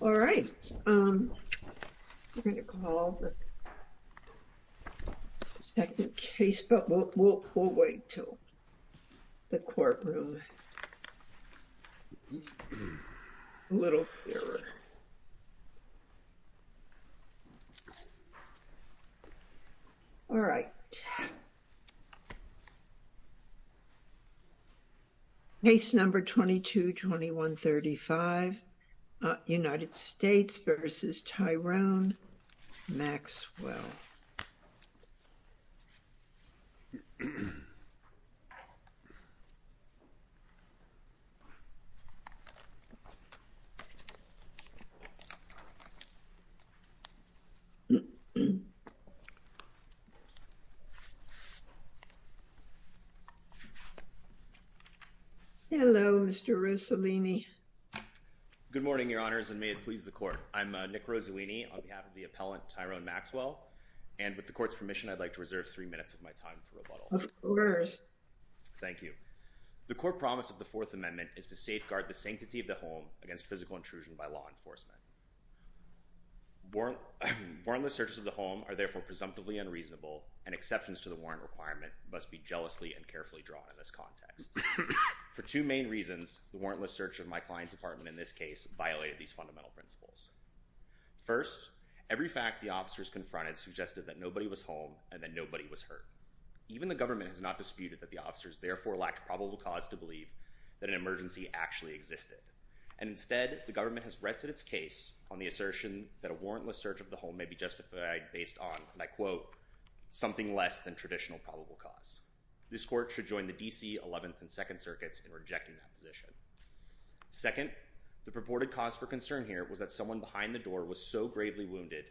All right, we're going to call the second case, but we'll wait till the courtroom, a little clearer. All right. Case number 22-2135, United States v. Tyrone Maxwell. Hello, Mr. Rossellini. Good morning, your honors, and may it please the court. I'm Nick Rossellini on behalf of the appellant, Tyrone Maxwell. And with the court's permission, I'd like to reserve three minutes of my time for rebuttal. Of course. Thank you. The court promise of the Fourth Amendment is to safeguard the sanctity of the home against physical intrusion by law enforcement. Warrantless searches of the home are therefore presumptively unreasonable, and exceptions to the warrant requirement must be jealously and carefully drawn in this context. For two main reasons, the warrantless search of my client's apartment in this case violated these fundamental principles. First, every fact the officers confronted suggested that nobody was home and that nobody was hurt. Even the government has not disputed that the officers therefore lacked probable cause to believe that an emergency actually existed. And instead, the government has rested its case on the assertion that a warrantless search of the home may be justified based on, and I quote, something less than traditional probable cause. This court should join the D.C. 11th and 2nd circuits in rejecting that position. Second, the purported cause for concern here was that someone behind the door was so gravely wounded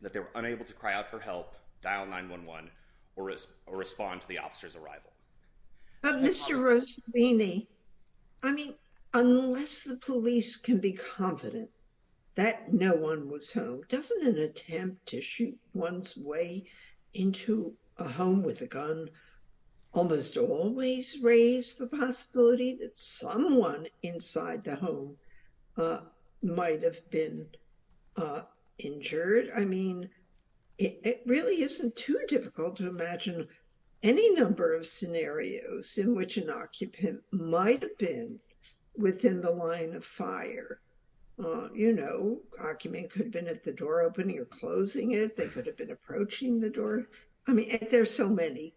that they were unable to cry out for help, dial 911, or respond to the officer's arrival. I mean, unless the police can be confident that no one was home, doesn't an attempt to shoot one's way into a home with a gun almost always raise the possibility that someone inside the home might have been injured? I mean, it really isn't too difficult to imagine any number of scenarios in which an occupant might have been within the line of fire. You know, occupant could have been at the door opening or closing it. They could have been approaching the door. I mean, there's so many.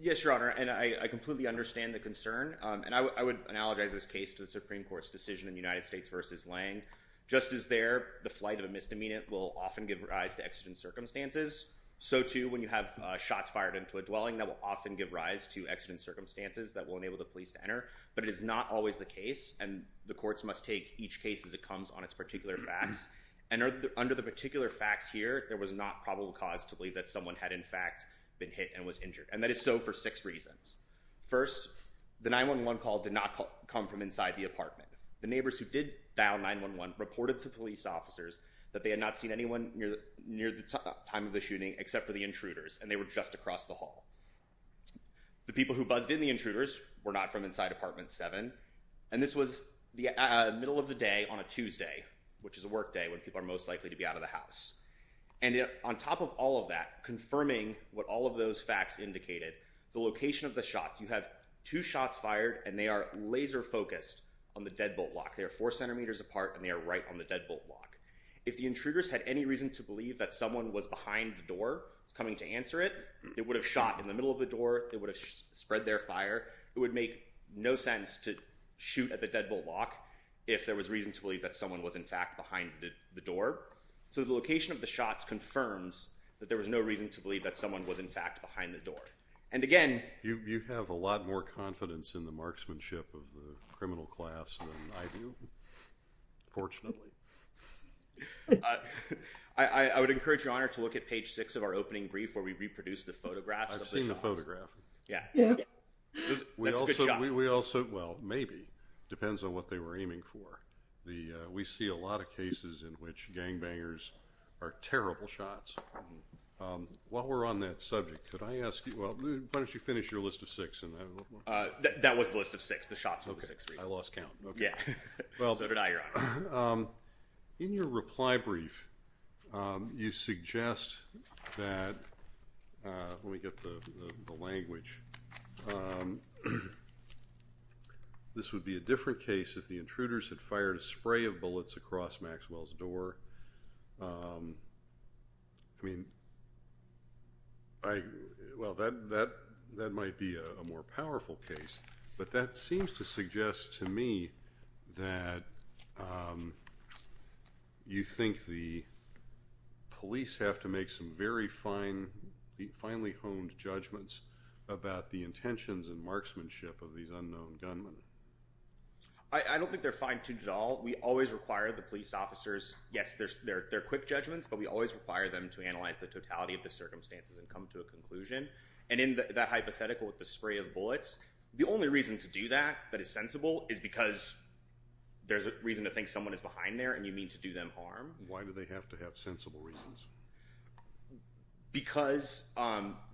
Yes, Your Honor, and I completely understand the concern. And I would analogize this case to the Supreme Court's decision in the United States versus Lange. Just as there, the flight of a misdemeanor will often give rise to exigent circumstances, so too when you have shots fired into a dwelling, that will often give rise to exigent circumstances that will enable the police to enter. But it is not always the case, and the courts must take each case as it comes on its particular facts. And under the particular facts here, there was not probable cause to believe that someone had in fact been hit and was injured. And that is so for six reasons. First, the 911 call did not come from inside the apartment. The neighbors who did dial 911 reported to police officers that they had not seen anyone near the time of the shooting except for the intruders, and they were just across the hall. The people who buzzed in the intruders were not from inside apartment 7. And this was the middle of the day on a Tuesday, which is a work day when people are most likely to be out of the house. And on top of all of that, confirming what all of those facts indicated, the location of the shots, you have two shots fired, and they are laser focused on the deadbolt lock. They are four centimeters apart, and they are right on the deadbolt lock. If the intruders had any reason to believe that someone was behind the door coming to answer it, they would have shot in the middle of the door. They would have spread their fire. It would make no sense to shoot at the deadbolt lock if there was reason to believe that someone was, in fact, behind the door. So the location of the shots confirms that there was no reason to believe that someone was, in fact, behind the door. And, again… You have a lot more confidence in the marksmanship of the criminal class than I do, fortunately. I would encourage Your Honor to look at page 6 of our opening brief where we reproduce the photographs. I've seen the photograph. Yeah. We also… That's a good shot. Well, maybe. It depends on what they were aiming for. We see a lot of cases in which gangbangers are terrible shots. While we're on that subject, could I ask you… Why don't you finish your list of six? That was the list of six, the shots of the six reasons. I lost count. Yeah. So did I, Your Honor. In your reply brief, you suggest that… Let me get the language. This would be a different case if the intruders had fired a spray of bullets across Maxwell's door. I mean… Well, that might be a more powerful case. But that seems to suggest to me that you think the police have to make some very finely-honed judgments about the intentions and marksmanship of these unknown gunmen. I don't think they're fine-tuned at all. We always require the police officers… Yes, they're quick judgments, but we always require them to analyze the totality of the circumstances and come to a conclusion. And in that hypothetical with the spray of bullets, the only reason to do that that is sensible is because there's a reason to think someone is behind there and you mean to do them harm. Why do they have to have sensible reasons? Because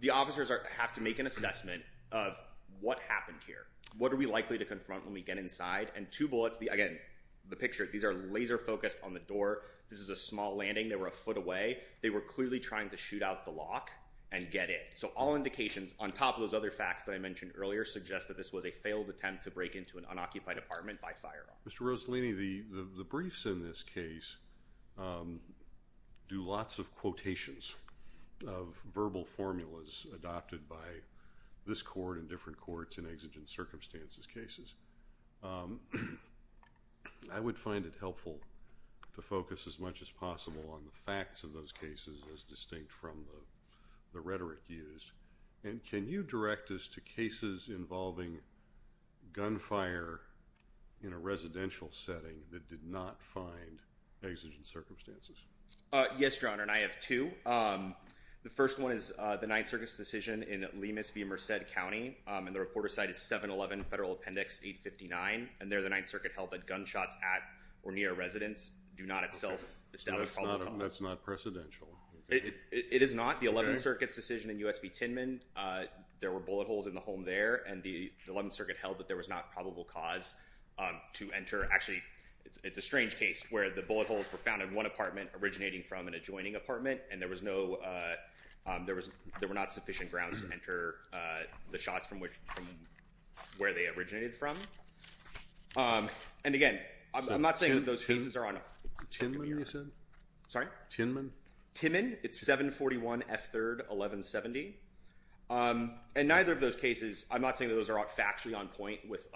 the officers have to make an assessment of what happened here. What are we likely to confront when we get inside? And two bullets… Again, the picture. These are laser-focused on the door. This is a small landing. They were a foot away. They were clearly trying to shoot out the lock and get in. So all indications, on top of those other facts that I mentioned earlier, suggest that this was a failed attempt to break into an unoccupied apartment by firearm. Mr. Rossellini, the briefs in this case do lots of quotations of verbal formulas adopted by this court and different courts in exigent circumstances cases. I would find it helpful to focus as much as possible on the facts of those cases as distinct from the rhetoric used. And can you direct us to cases involving gunfire in a residential setting that did not find exigent circumstances? Yes, Your Honor, and I have two. The first one is the Ninth Circuit's decision in Lemus v. Merced County, and the reporter's site is 711 Federal Appendix 859. And there the Ninth Circuit held that gunshots at or near a residence do not itself establish probable cause. That's not precedential. It is not. It's not the Eleventh Circuit's decision in U.S. v. Tynman. There were bullet holes in the home there, and the Eleventh Circuit held that there was not probable cause to enter. Actually, it's a strange case where the bullet holes were found in one apartment originating from an adjoining apartment, and there were not sufficient grounds to enter the shots from where they originated from. And again, I'm not saying that those pieces are on a – Tynman, you said? Sorry? Tynman? Tynman. It's 741 F3rd 1170. And neither of those cases – I'm not saying that those are factually on point with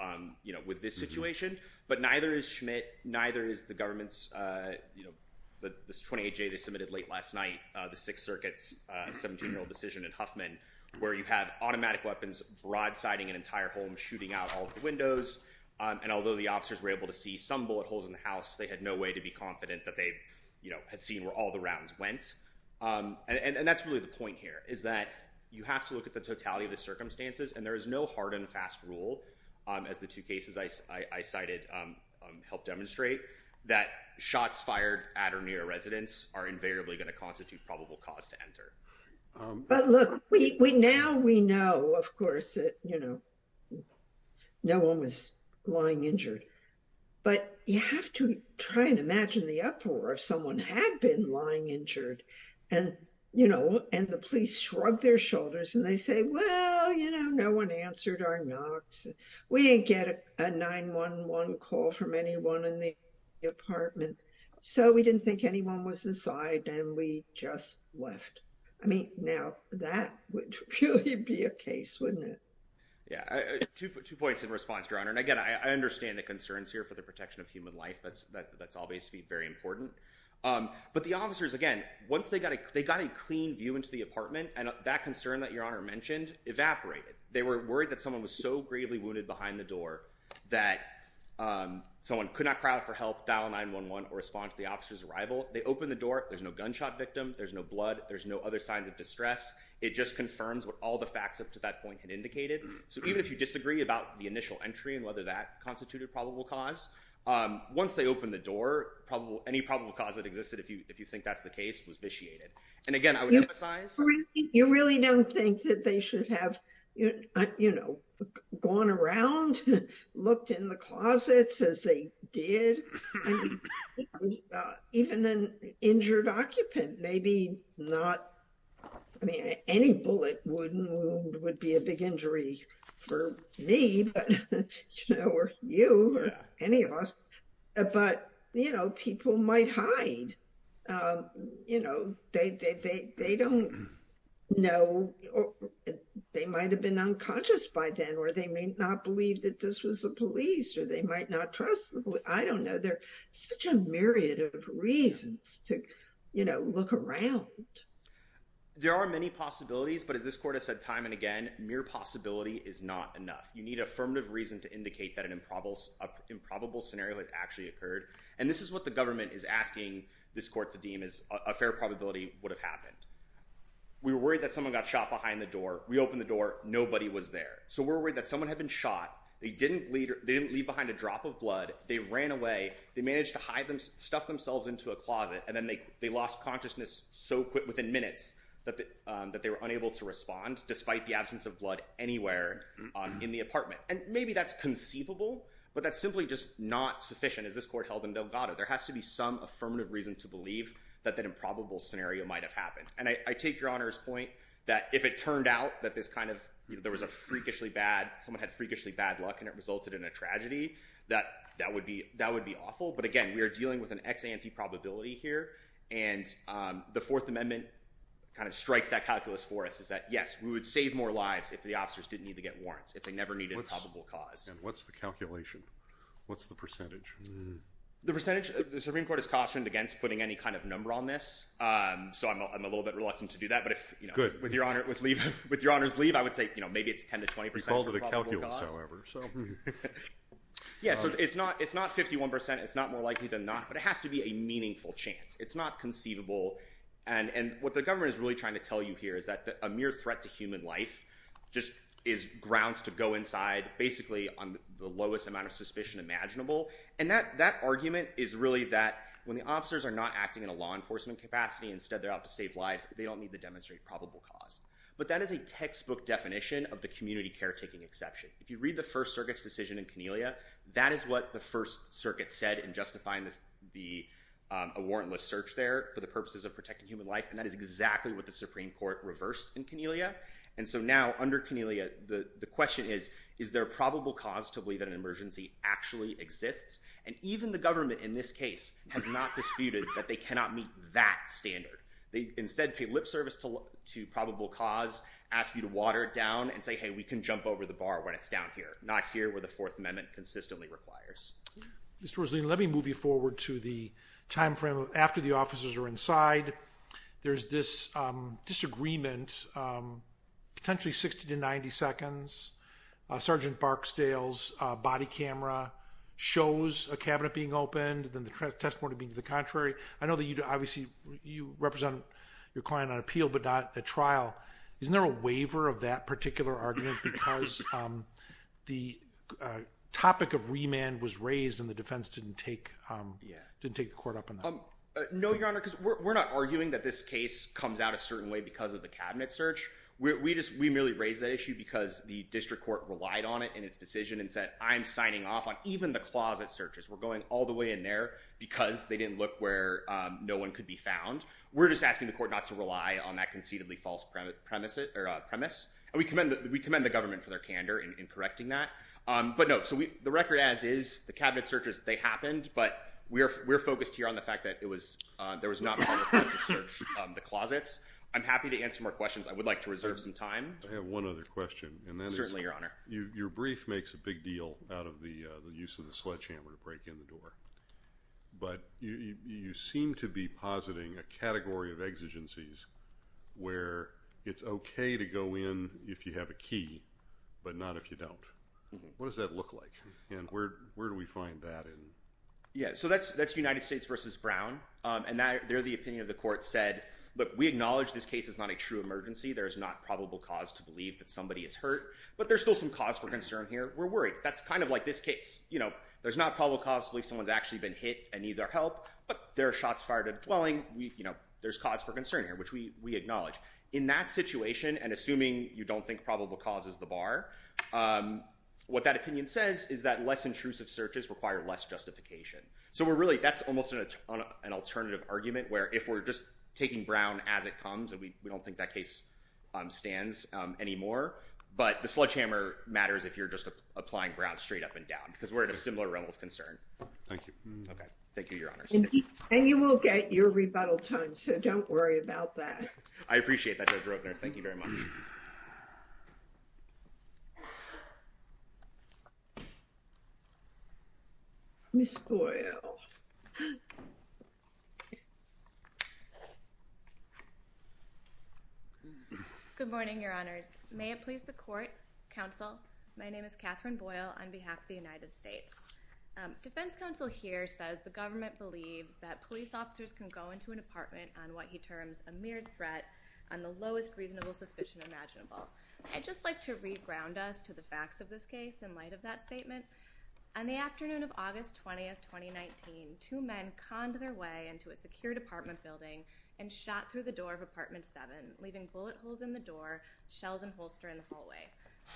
this situation, but neither is Schmidt. Neither is the government's – the 28-J they submitted late last night, the Sixth Circuit's 17-year-old decision in Huffman, where you have automatic weapons broadsiding an entire home, shooting out all of the windows. And although the officers were able to see some bullet holes in the house, they had no way to be confident that they had seen where all the rounds went. And that's really the point here, is that you have to look at the totality of the circumstances, and there is no hard and fast rule, as the two cases I cited help demonstrate, that shots fired at or near a residence are invariably going to constitute probable cause to enter. But look, now we know, of course, that no one was lying injured. But you have to try and imagine the uproar if someone had been lying injured, and the police shrug their shoulders and they say, well, you know, no one answered our knocks. We didn't get a 911 call from anyone in the apartment, so we didn't think anyone was inside, and we just left. I mean, now that would really be a case, wouldn't it? Yeah, two points in response, Your Honor. And again, I understand the concerns here for the protection of human life. That's obviously very important. But the officers, again, once they got a clean view into the apartment, that concern that Your Honor mentioned evaporated. They were worried that someone was so gravely wounded behind the door that someone could not cry out for help, dial 911, or respond to the officer's arrival. They opened the door. There's no gunshot victim. There's no blood. There's no other signs of distress. It just confirms what all the facts up to that point had indicated. So even if you disagree about the initial entry and whether that constituted probable cause, once they opened the door, any probable cause that existed, if you think that's the case, was vitiated. And again, I would emphasize— You really don't think that they should have, you know, gone around, looked in the closets as they did? Even an injured occupant, maybe not—I mean, any bullet wound would be a big injury for me, you know, or you, or any of us. But, you know, people might hide. You know, they don't know—they might have been unconscious by then, or they may not believe that this was the police, or they might not trust— I don't know. There are such a myriad of reasons to, you know, look around. There are many possibilities, but as this court has said time and again, mere possibility is not enough. You need affirmative reason to indicate that an improbable scenario has actually occurred. And this is what the government is asking this court to deem as a fair probability would have happened. We were worried that someone got shot behind the door. We opened the door. Nobody was there. So we're worried that someone had been shot. They didn't leave behind a drop of blood. They ran away. They managed to hide themselves—stuff themselves into a closet, and then they lost consciousness so quick, within minutes, that they were unable to respond, despite the absence of blood anywhere in the apartment. And maybe that's conceivable, but that's simply just not sufficient, as this court held in Delgado. There has to be some affirmative reason to believe that that improbable scenario might have happened. And I take Your Honor's point that if it turned out that this kind of—there was a freakishly bad— someone had freakishly bad luck and it resulted in a tragedy, that would be awful. But again, we are dealing with an ex-ante probability here, and the Fourth Amendment kind of strikes that calculus for us, is that yes, we would save more lives if the officers didn't need to get warrants, if they never needed improbable cause. And what's the calculation? What's the percentage? The percentage—the Supreme Court has cautioned against putting any kind of number on this, so I'm a little bit reluctant to do that. But with Your Honor's leave, I would say maybe it's 10% to 20% improbable cause. It's all to the calculus, however. Yeah, so it's not 51%. It's not more likely than not. But it has to be a meaningful chance. It's not conceivable. And what the government is really trying to tell you here is that a mere threat to human life just is grounds to go inside, basically, on the lowest amount of suspicion imaginable. And that argument is really that when the officers are not acting in a law enforcement capacity, instead they're out to save lives, they don't need to demonstrate probable cause. But that is a textbook definition of the community caretaking exception. If you read the First Circuit's decision in Cornelia, that is what the First Circuit said in justifying the warrantless search there for the purposes of protecting human life, and that is exactly what the Supreme Court reversed in Cornelia. And so now, under Cornelia, the question is, is there probable cause to believe that an emergency actually exists? And even the government in this case has not disputed that they cannot meet that standard. They instead pay lip service to probable cause, ask you to water it down, and say, hey, we can jump over the bar when it's down here, not here where the Fourth Amendment consistently requires. Mr. Roslin, let me move you forward to the time frame after the officers are inside. There's this disagreement, potentially 60 to 90 seconds. Sergeant Barksdale's body camera shows a cabinet being opened, then the testimony being to the contrary. I know that you represent your client on appeal but not at trial. Isn't there a waiver of that particular argument because the topic of remand was raised and the defense didn't take the court up on that? No, Your Honor, because we're not arguing that this case comes out a certain way because of the cabinet search. We merely raised that issue because the district court relied on it in its decision and said I'm signing off on even the closet searches. We're going all the way in there because they didn't look where no one could be found. We're just asking the court not to rely on that conceitedly false premise. And we commend the government for their candor in correcting that. But, no, so the record as is, the cabinet searches, they happened, but we're focused here on the fact that there was not probable cause to search the closets. I'm happy to answer more questions. I would like to reserve some time. I have one other question. Certainly, Your Honor. Your brief makes a big deal out of the use of the sledgehammer to break in the door. But you seem to be positing a category of exigencies where it's okay to go in if you have a key but not if you don't. What does that look like and where do we find that in? Yeah, so that's United States v. Brown. And there the opinion of the court said, look, we acknowledge this case is not a true emergency. There is not probable cause to believe that somebody is hurt. But there's still some cause for concern here. We're worried. That's kind of like this case. There's not probable cause to believe someone's actually been hit and needs our help. But there are shots fired at a dwelling. There's cause for concern here, which we acknowledge. In that situation, and assuming you don't think probable cause is the bar, what that opinion says is that less intrusive searches require less justification. So that's almost an alternative argument where if we're just taking Brown as it comes, and we don't think that case stands anymore, but the sledgehammer matters if you're just applying Brown straight up and down because we're at a similar level of concern. Thank you. Okay. Thank you, Your Honors. And you will get your rebuttal time, so don't worry about that. I appreciate that, Judge Roedner. Thank you very much. Ms. Boyle. Good morning, Your Honors. May it please the court, counsel, my name is Catherine Boyle on behalf of the United States. Defense counsel here says the government believes that police officers can go into an apartment on what he terms a mere threat on the lowest reasonable suspicion imaginable. I'd just like to re-ground us to the facts of this case in light of that statement. On the afternoon of August 20, 2019, two men conned their way into a secured apartment building and shot through the door of apartment 7, leaving bullet holes in the door, shells and holster in the hallway.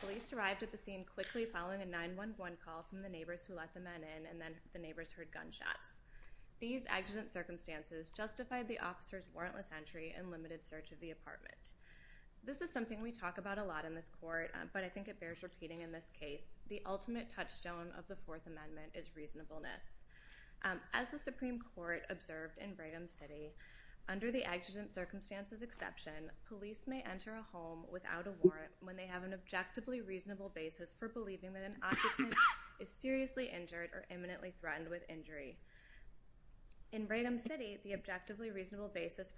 Police arrived at the scene quickly following a 911 call from the neighbors who let the men in, and then the neighbors heard gunshots. These accident circumstances justified the officer's warrantless entry and limited search of the apartment. This is something we talk about a lot in this court, but I think it bears repeating in this case. The ultimate touchstone of the Fourth Amendment is reasonableness. As the Supreme Court observed in Brigham City, under the accident circumstances exception, police may enter a home without a warrant when they have an objectively reasonable basis for believing that an occupant is seriously injured or imminently threatened with injury. In Brigham City, the objectively reasonable basis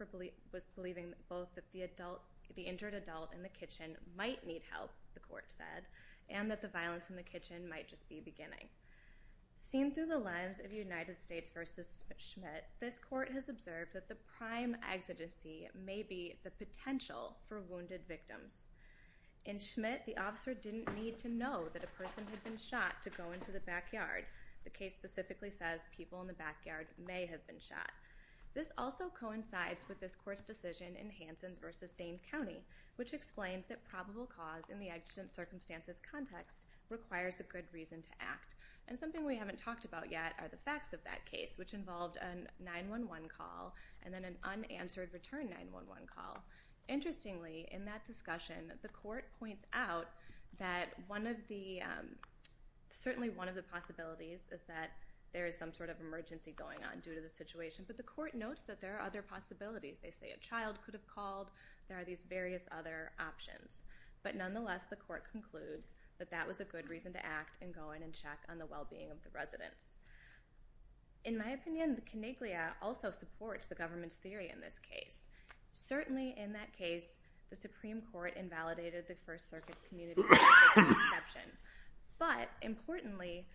was believing both that the injured adult in the kitchen might need help, the court said, and that the violence in the kitchen might just be beginning. Seen through the lens of United States v. Schmidt, this court has observed that the prime exigency may be the potential for wounded victims. In Schmidt, the officer didn't need to know that a person had been shot to go into the backyard. The case specifically says people in the backyard may have been shot. This also coincides with this court's decision in Hansen v. Dane County, which explained that probable cause in the accident circumstances context requires a good reason to act. And something we haven't talked about yet are the facts of that case, which involved a 911 call and then an unanswered return 911 call. Interestingly, in that discussion, the court points out that certainly one of the possibilities is that there is some sort of emergency going on due to the situation, but the court notes that there are other possibilities. They say a child could have called. There are these various other options. But nonetheless, the court concludes that that was a good reason to act and go in and check on the well-being of the residents. In my opinion, the coniglia also supports the government's theory in this case. Certainly in that case, the Supreme Court invalidated the First Circuit's community perception. But importantly,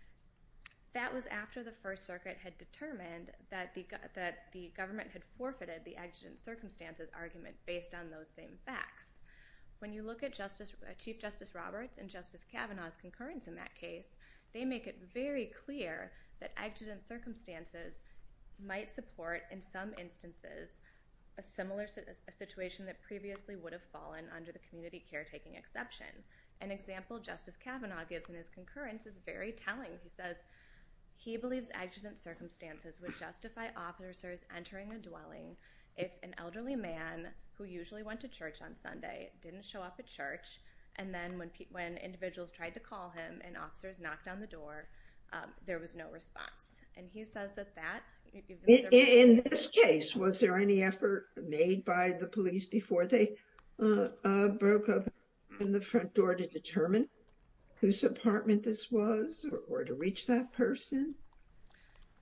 that was after the First Circuit had determined that the government had forfeited the accident circumstances argument based on those same facts. When you look at Chief Justice Roberts and Justice Kavanaugh's concurrence in that case, they make it very clear that accident circumstances might support, in some instances, a similar situation that previously would have fallen under the community caretaking exception. An example Justice Kavanaugh gives in his concurrence is very telling. He says he believes accident circumstances would justify officers entering a dwelling if an elderly man who usually went to church on Sunday didn't show up at church and then when individuals tried to call him and officers knocked on the door, there was no response. And he says that that... In this case, was there any effort made by the police before they broke open the front door to determine whose apartment this was or to reach that person?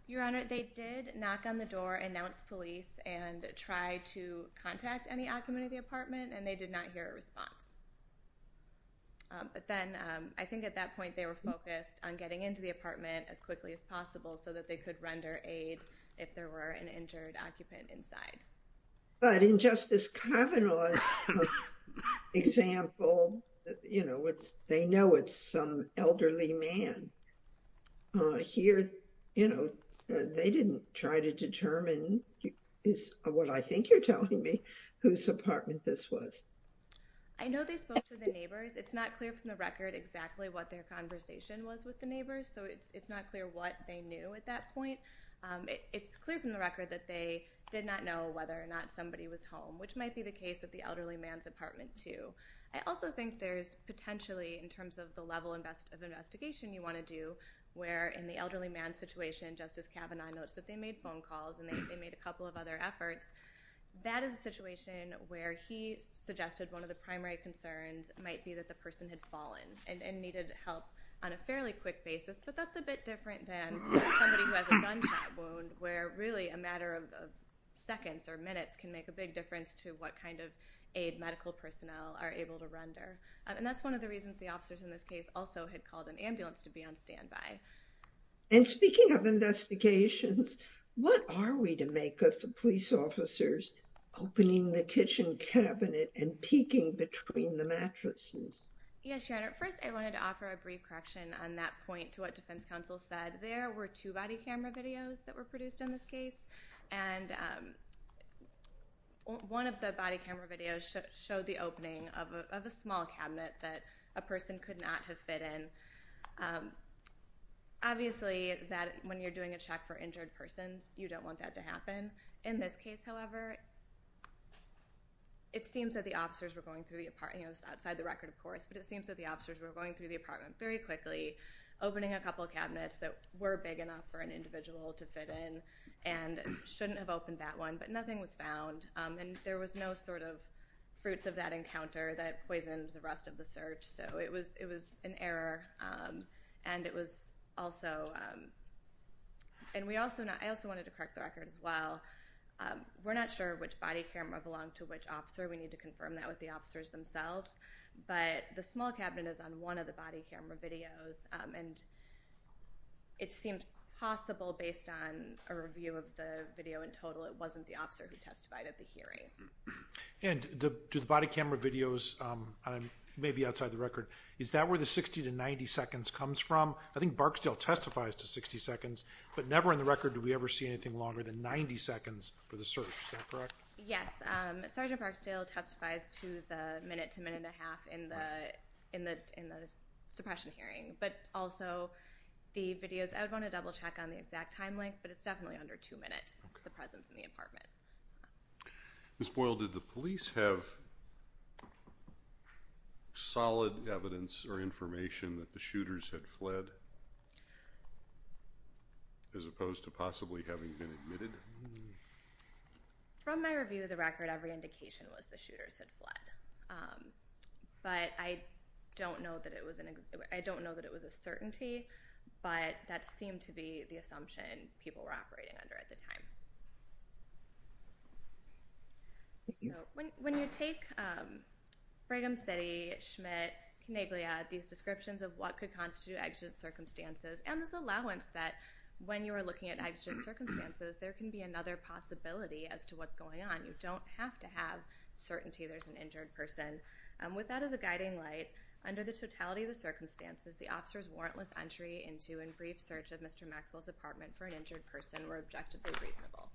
Your Honor, they did knock on the door, announce police, and try to contact any occupant of the apartment, and they did not hear a response. But then, I think at that point they were focused on getting into the apartment as quickly as possible so that they could render aid if there were an injured occupant inside. But in Justice Kavanaugh's example, you know, they know it's some elderly man. Here, you know, they didn't try to determine, is what I think you're telling me, whose apartment this was. I know they spoke to the neighbors. It's not clear from the record exactly what their conversation was with the neighbors, so it's not clear what they knew at that point. It's clear from the record that they did not know whether or not somebody was home, which might be the case at the elderly man's apartment too. I also think there's potentially, in terms of the level of investigation you want to do, where in the elderly man's situation, Justice Kavanaugh notes that they made phone calls and they made a couple of other efforts. That is a situation where he suggested one of the primary concerns might be that the person had fallen and needed help on a fairly quick basis, but that's a bit different than somebody who has a gunshot wound where really a matter of seconds or minutes can make a big difference as to what kind of aid medical personnel are able to render. And that's one of the reasons the officers in this case also had called an ambulance to be on standby. And speaking of investigations, what are we to make of the police officers opening the kitchen cabinet and peeking between the mattresses? Yes, Your Honor. First, I wanted to offer a brief correction on that point to what Defense Counsel said. There were two body camera videos that were produced in this case, and one of the body camera videos showed the opening of a small cabinet that a person could not have fit in. Obviously, when you're doing a check for injured persons, you don't want that to happen. In this case, however, it seems that the officers were going through the apartment. This is outside the record, of course, but it seems that the officers were going through the apartment very quickly, opening a couple of cabinets that were big enough for an individual to fit in and shouldn't have opened that one, but nothing was found. And there was no sort of fruits of that encounter that poisoned the rest of the search. So it was an error, and it was also – and I also wanted to correct the record as well. We're not sure which body camera belonged to which officer. We need to confirm that with the officers themselves. But the small cabinet is on one of the body camera videos, and it seemed possible based on a review of the video in total it wasn't the officer who testified at the hearing. And do the body camera videos – maybe outside the record – is that where the 60 to 90 seconds comes from? I think Barksdale testifies to 60 seconds, but never in the record do we ever see anything longer than 90 seconds for the search. Is that correct? Yes. Sergeant Barksdale testifies to the minute to minute and a half in the suppression hearing, but also the videos – I would want to double-check on the exact time length, but it's definitely under two minutes, the presence in the apartment. Ms. Boyle, did the police have solid evidence or information that the shooters had fled as opposed to possibly having been admitted? From my review of the record, every indication was the shooters had fled, but I don't know that it was a certainty, but that seemed to be the assumption people were operating under at the time. So when you take Brigham City, Schmidt, Coneglia, these descriptions of what could constitute exigent circumstances and this allowance that when you are looking at exigent circumstances, there can be another possibility as to what's going on. You don't have to have certainty there's an injured person. With that as a guiding light, under the totality of the circumstances, the officers' warrantless entry into and brief search of Mr. Maxwell's apartment for an injured person were objectively reasonable.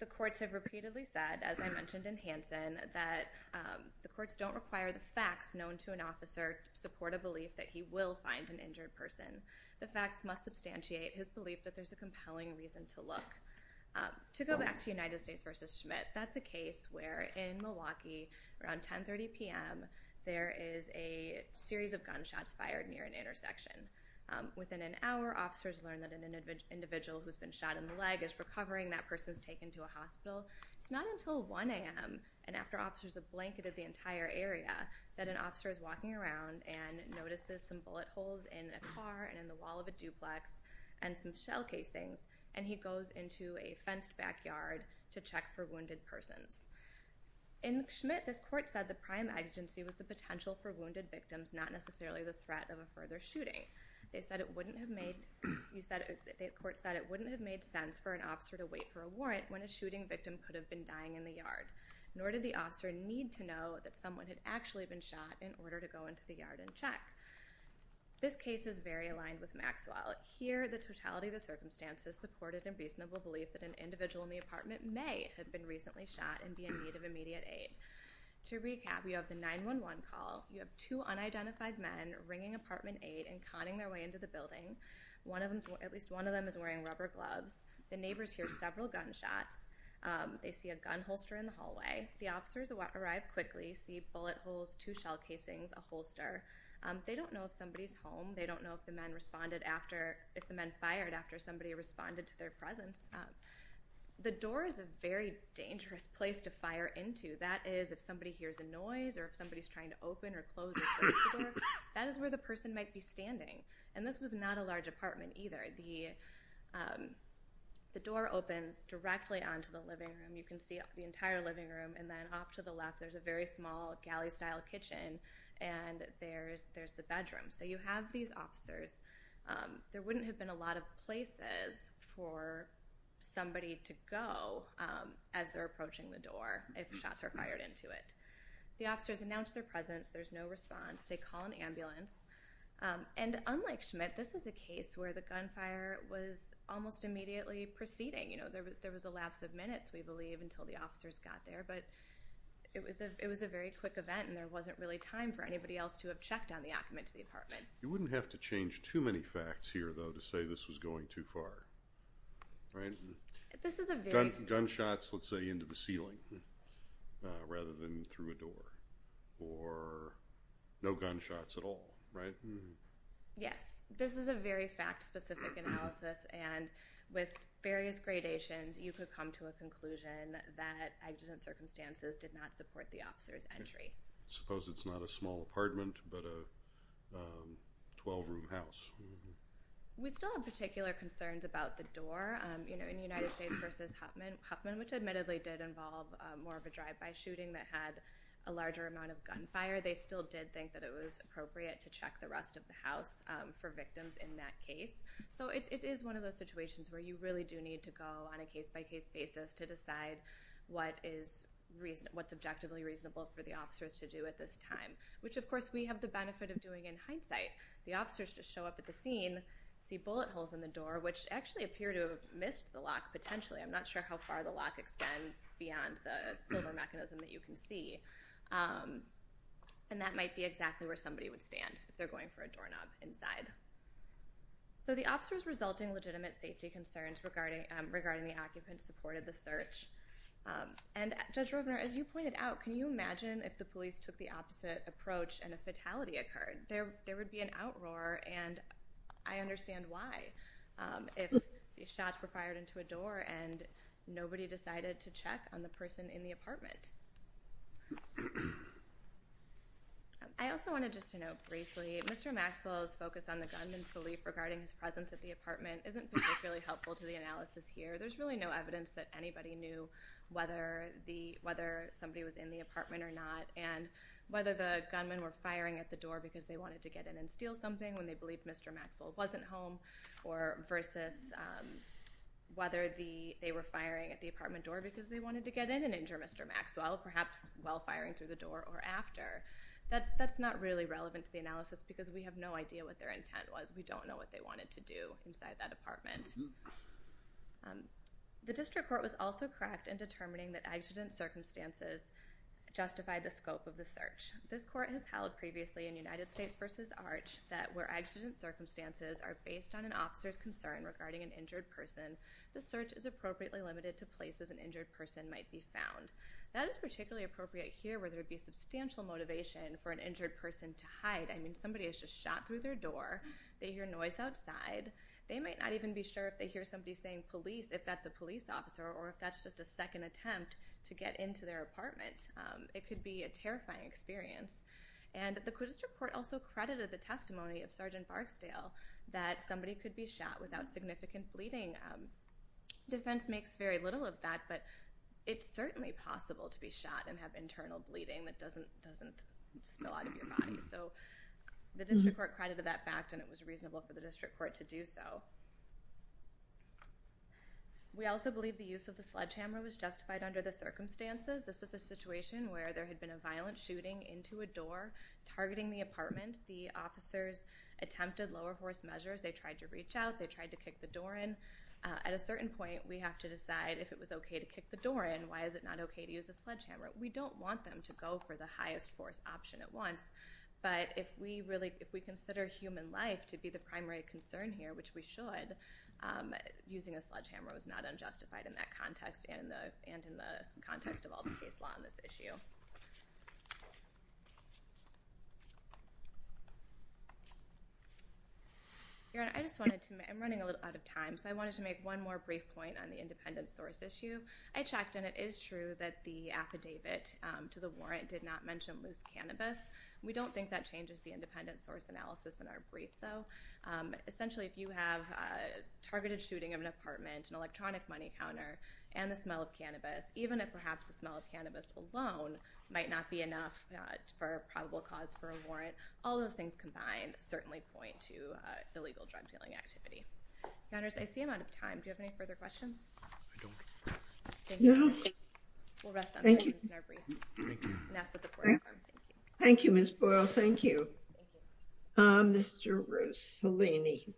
The courts don't require the facts known to an officer to support a belief that he will find an injured person. The facts must substantiate his belief that there's a compelling reason to look. To go back to United States v. Schmidt, that's a case where in Milwaukee, around 10.30 p.m., there is a series of gunshots fired near an intersection. Within an hour, officers learn that an individual who's been shot in the leg is recovering. That person is taken to a hospital. It's not until 1 a.m. and after officers have blanketed the entire area that an officer is walking around and notices some bullet holes in a car and in the wall of a duplex and some shell casings, and he goes into a fenced backyard to check for wounded persons. In Schmidt, this court said the prime exigency was the potential for wounded victims, not necessarily the threat of a further shooting. They said it wouldn't have made—the court said it wouldn't have made sense for an officer to wait for a warrant when a shooting victim could have been dying in the yard, nor did the officer need to know that someone had actually been shot in order to go into the yard and check. This case is very aligned with Maxwell. Here, the totality of the circumstances supported a reasonable belief that an individual in the apartment may have been recently shot and be in need of immediate aid. To recap, you have the 911 call. You have two unidentified men ringing apartment 8 and conning their way into the building. At least one of them is wearing rubber gloves. The neighbors hear several gunshots. They see a gun holster in the hallway. The officers arrive quickly, see bullet holes, two shell casings, a holster. They don't know if somebody's home. They don't know if the men responded after—if the men fired after somebody responded to their presence. The door is a very dangerous place to fire into. That is, if somebody hears a noise or if somebody's trying to open or close the door, that is where the person might be standing, and this was not a large apartment either. The door opens directly onto the living room. You can see the entire living room, and then off to the left, there's a very small galley-style kitchen, and there's the bedroom. So you have these officers. There wouldn't have been a lot of places for somebody to go as they're approaching the door if shots are fired into it. The officers announce their presence. There's no response. They call an ambulance. And unlike Schmidt, this is a case where the gunfire was almost immediately proceeding. There was a lapse of minutes, we believe, until the officers got there, but it was a very quick event and there wasn't really time for anybody else to have checked on the occupant to the apartment. You wouldn't have to change too many facts here, though, to say this was going too far, right? This is a very— Gunshots, let's say, into the ceiling rather than through a door, or no gunshots at all, right? Yes. This is a very fact-specific analysis, and with various gradations, you could come to a conclusion that accident circumstances did not support the officer's entry. Suppose it's not a small apartment but a 12-room house. We still have particular concerns about the door. In the United States versus Huffman, which admittedly did involve more of a drive-by shooting that had a larger amount of gunfire, they still did think that it was appropriate to check the rest of the house for victims in that case. So it is one of those situations where you really do need to go on a case-by-case basis to decide what's objectively reasonable for the officers to do at this time, which, of course, we have the benefit of doing in hindsight. The officers just show up at the scene, see bullet holes in the door, which actually appear to have missed the lock potentially. I'm not sure how far the lock extends beyond the silver mechanism that you can see. And that might be exactly where somebody would stand if they're going for a doorknob inside. So the officers' resulting legitimate safety concerns regarding the occupant supported the search. And Judge Roebner, as you play it out, can you imagine if the police took the opposite approach and a fatality occurred? There would be an outroar, and I understand why. If the shots were fired into a door and nobody decided to check on the person in the apartment. I also wanted just to note briefly, Mr. Maxwell's focus on the gunman's belief regarding his presence at the apartment isn't particularly helpful to the analysis here. There's really no evidence that anybody knew whether somebody was in the apartment or not and whether the gunman were firing at the door because they wanted to get in and steal something when they believed Mr. Maxwell wasn't home versus whether they were firing at the apartment door because they wanted to get in and injure Mr. Maxwell, perhaps while firing through the door or after. That's not really relevant to the analysis because we have no idea what their intent was. We don't know what they wanted to do inside that apartment. The district court was also correct in determining that accident circumstances justified the scope of the search. This court has held previously in United States v. Arch that where accident circumstances are based on an officer's concern regarding an injured person, the search is appropriately limited to places an injured person might be found. That is particularly appropriate here where there would be substantial motivation for an injured person to hide. I mean, somebody has just shot through their door. They hear noise outside. They might not even be sure if they hear somebody saying, police, if that's a police officer or if that's just a second attempt to get into their apartment. It could be a terrifying experience. And the district court also credited the testimony of Sgt. Barksdale that somebody could be shot without significant bleeding. Defense makes very little of that, but it's certainly possible to be shot and have internal bleeding that doesn't spill out of your body. So the district court credited that fact and it was reasonable for the district court to do so. We also believe the use of the sledgehammer was justified under the circumstances. This is a situation where there had been a violent shooting into a door targeting the apartment. The officers attempted lower force measures. They tried to reach out. They tried to kick the door in. At a certain point, we have to decide if it was okay to kick the door in. Why is it not okay to use a sledgehammer? We don't want them to go for the highest force option at once, but if we consider human life to be the primary concern here, which we should, using a sledgehammer was not unjustified in that context and in the context of all the case law on this issue. I'm running a little out of time, so I wanted to make one more brief point on the independent source issue. I checked, and it is true that the affidavit to the warrant did not mention loose cannabis. We don't think that changes the independent source analysis in our brief, though. Essentially, if you have a targeted shooting of an apartment, an electronic money counter, and the smell of cannabis, even if perhaps the smell of cannabis alone might not be enough for a probable cause for a warrant, all those things combined certainly point to illegal drug-dealing activity. Countess, I see I'm out of time. Do you have any further questions? I don't. No. We'll rest on that in our brief. Thank you. Thank you, Ms. Boyle. Thank you. Mr. Rossellini.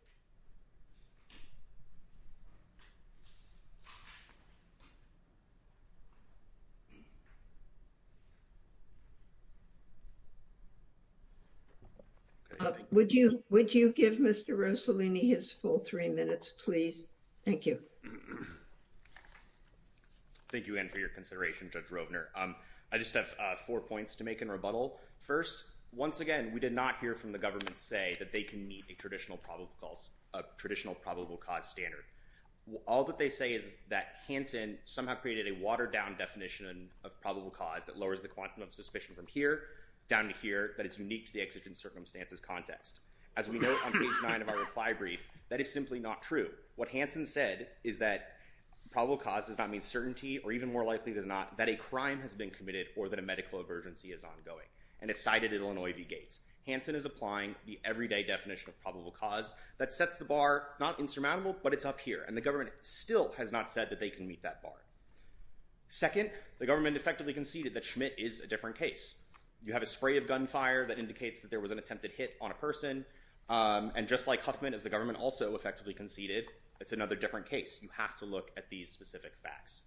Would you give Mr. Rossellini his full three minutes, please? Thank you. Thank you again for your consideration, Judge Rovner. I just have four points to make in rebuttal. First, once again, we did not hear from the government say that they can meet a traditional probable cause standard. All that they say is that Hansen somehow created a watered-down definition of probable cause that lowers the quantum of suspicion from here down to here that is unique to the exigent circumstances context. As we note on page 9 of our reply brief, that is simply not true. What Hansen said is that probable cause does not mean certainty, or even more likely than not, that a crime has been committed or that a medical emergency is ongoing. And it's cited at Illinois v. Gates. Hansen is applying the everyday definition of probable cause that sets the bar, not insurmountable, but it's up here. And the government still has not said that they can meet that bar. Second, the government effectively conceded that Schmidt is a different case. You have a spray of gunfire that indicates that there was an attempted hit on a person. And just like Huffman, as the government also effectively conceded, it's another different case. You have to look at these specific facts.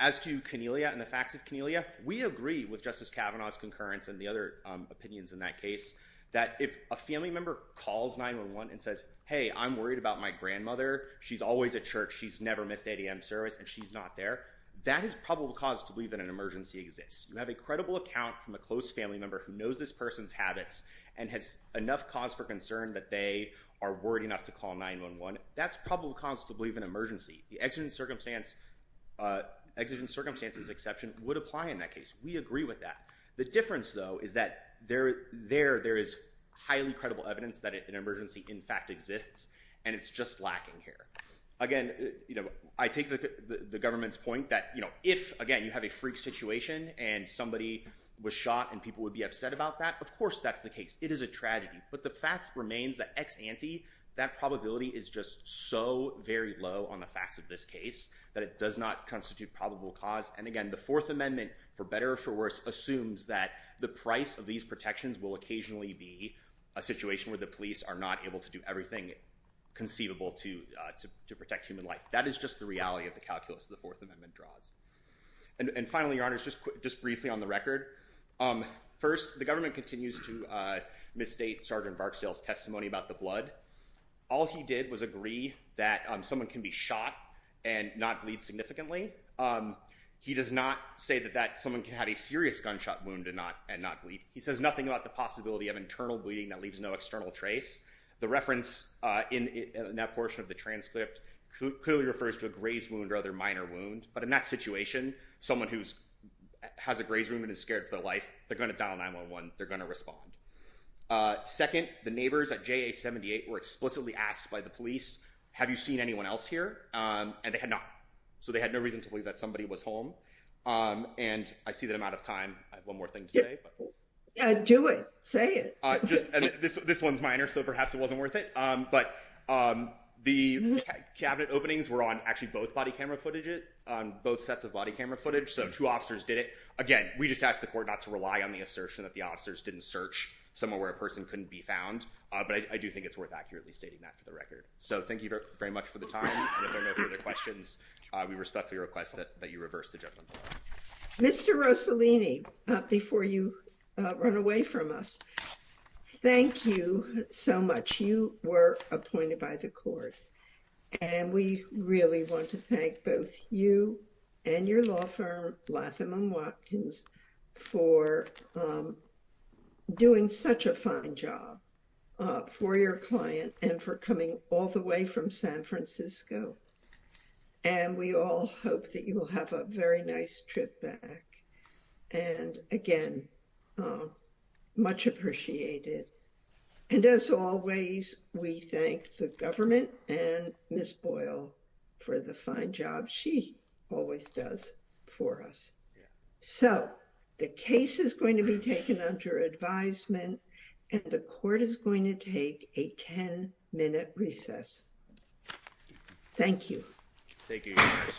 As to Cornelia and the facts of Cornelia, we agree with Justice Kavanaugh's concurrence and the other opinions in that case that if a family member calls 911 and says, hey, I'm worried about my grandmother. She's always at church. She's never missed ADM service, and she's not there. That is probable cause to believe that an emergency exists. You have a credible account from a close family member who knows this person's habits and has enough cause for concern that they are worried enough to call 911. That's probable cause to believe an emergency. The exigent circumstances exception would apply in that case. We agree with that. The difference, though, is that there is highly credible evidence that an emergency in fact exists, and it's just lacking here. Again, I take the government's point that if, again, you have a freak situation and somebody was shot and people would be upset about that, of course that's the case. It is a tragedy. But the fact remains that ex ante, that probability is just so very low on the facts of this case that it does not constitute probable cause. And, again, the Fourth Amendment, for better or for worse, assumes that the price of these protections will occasionally be a situation where the police are not able to do everything conceivable to protect human life. That is just the reality of the calculus the Fourth Amendment draws. And finally, Your Honors, just briefly on the record, first, the government continues to misstate Sergeant Varksdale's testimony about the blood. All he did was agree that someone can be shot and not bleed significantly. He does not say that someone can have a serious gunshot wound and not bleed. He says nothing about the possibility of internal bleeding that leaves no external trace. The reference in that portion of the transcript clearly refers to a graze wound or other minor wound. But in that situation, someone who has a graze wound and is scared for their life, they're going to dial 911. They're going to respond. Second, the neighbors at JA-78 were explicitly asked by the police, have you seen anyone else here? And they had not. So they had no reason to believe that somebody was home. And I see that I'm out of time. I have one more thing to say. Do it. Say it. This one's minor, so perhaps it wasn't worth it. But the cabinet openings were on actually both body camera footage, on both sets of body camera footage. So two officers did it. Again, we just asked the court not to rely on the assertion that the officers didn't search somewhere where a person couldn't be found. But I do think it's worth accurately stating that for the record. So thank you very much for the time. And if there are no further questions, we respectfully request that you reverse the judgment. Mr. Rossellini, before you run away from us, thank you so much. You were appointed by the court. And we really want to thank both you and your law firm, Latham & Watkins, for doing such a fine job for your client and for coming all the way from San Francisco. And we all hope that you will have a very nice trip back. And, again, much appreciated. And, as always, we thank the government and Ms. Boyle for the fine job she always does for us. So the case is going to be taken under advisement, and the court is going to take a 10-minute recess. Thank you, Your Honor.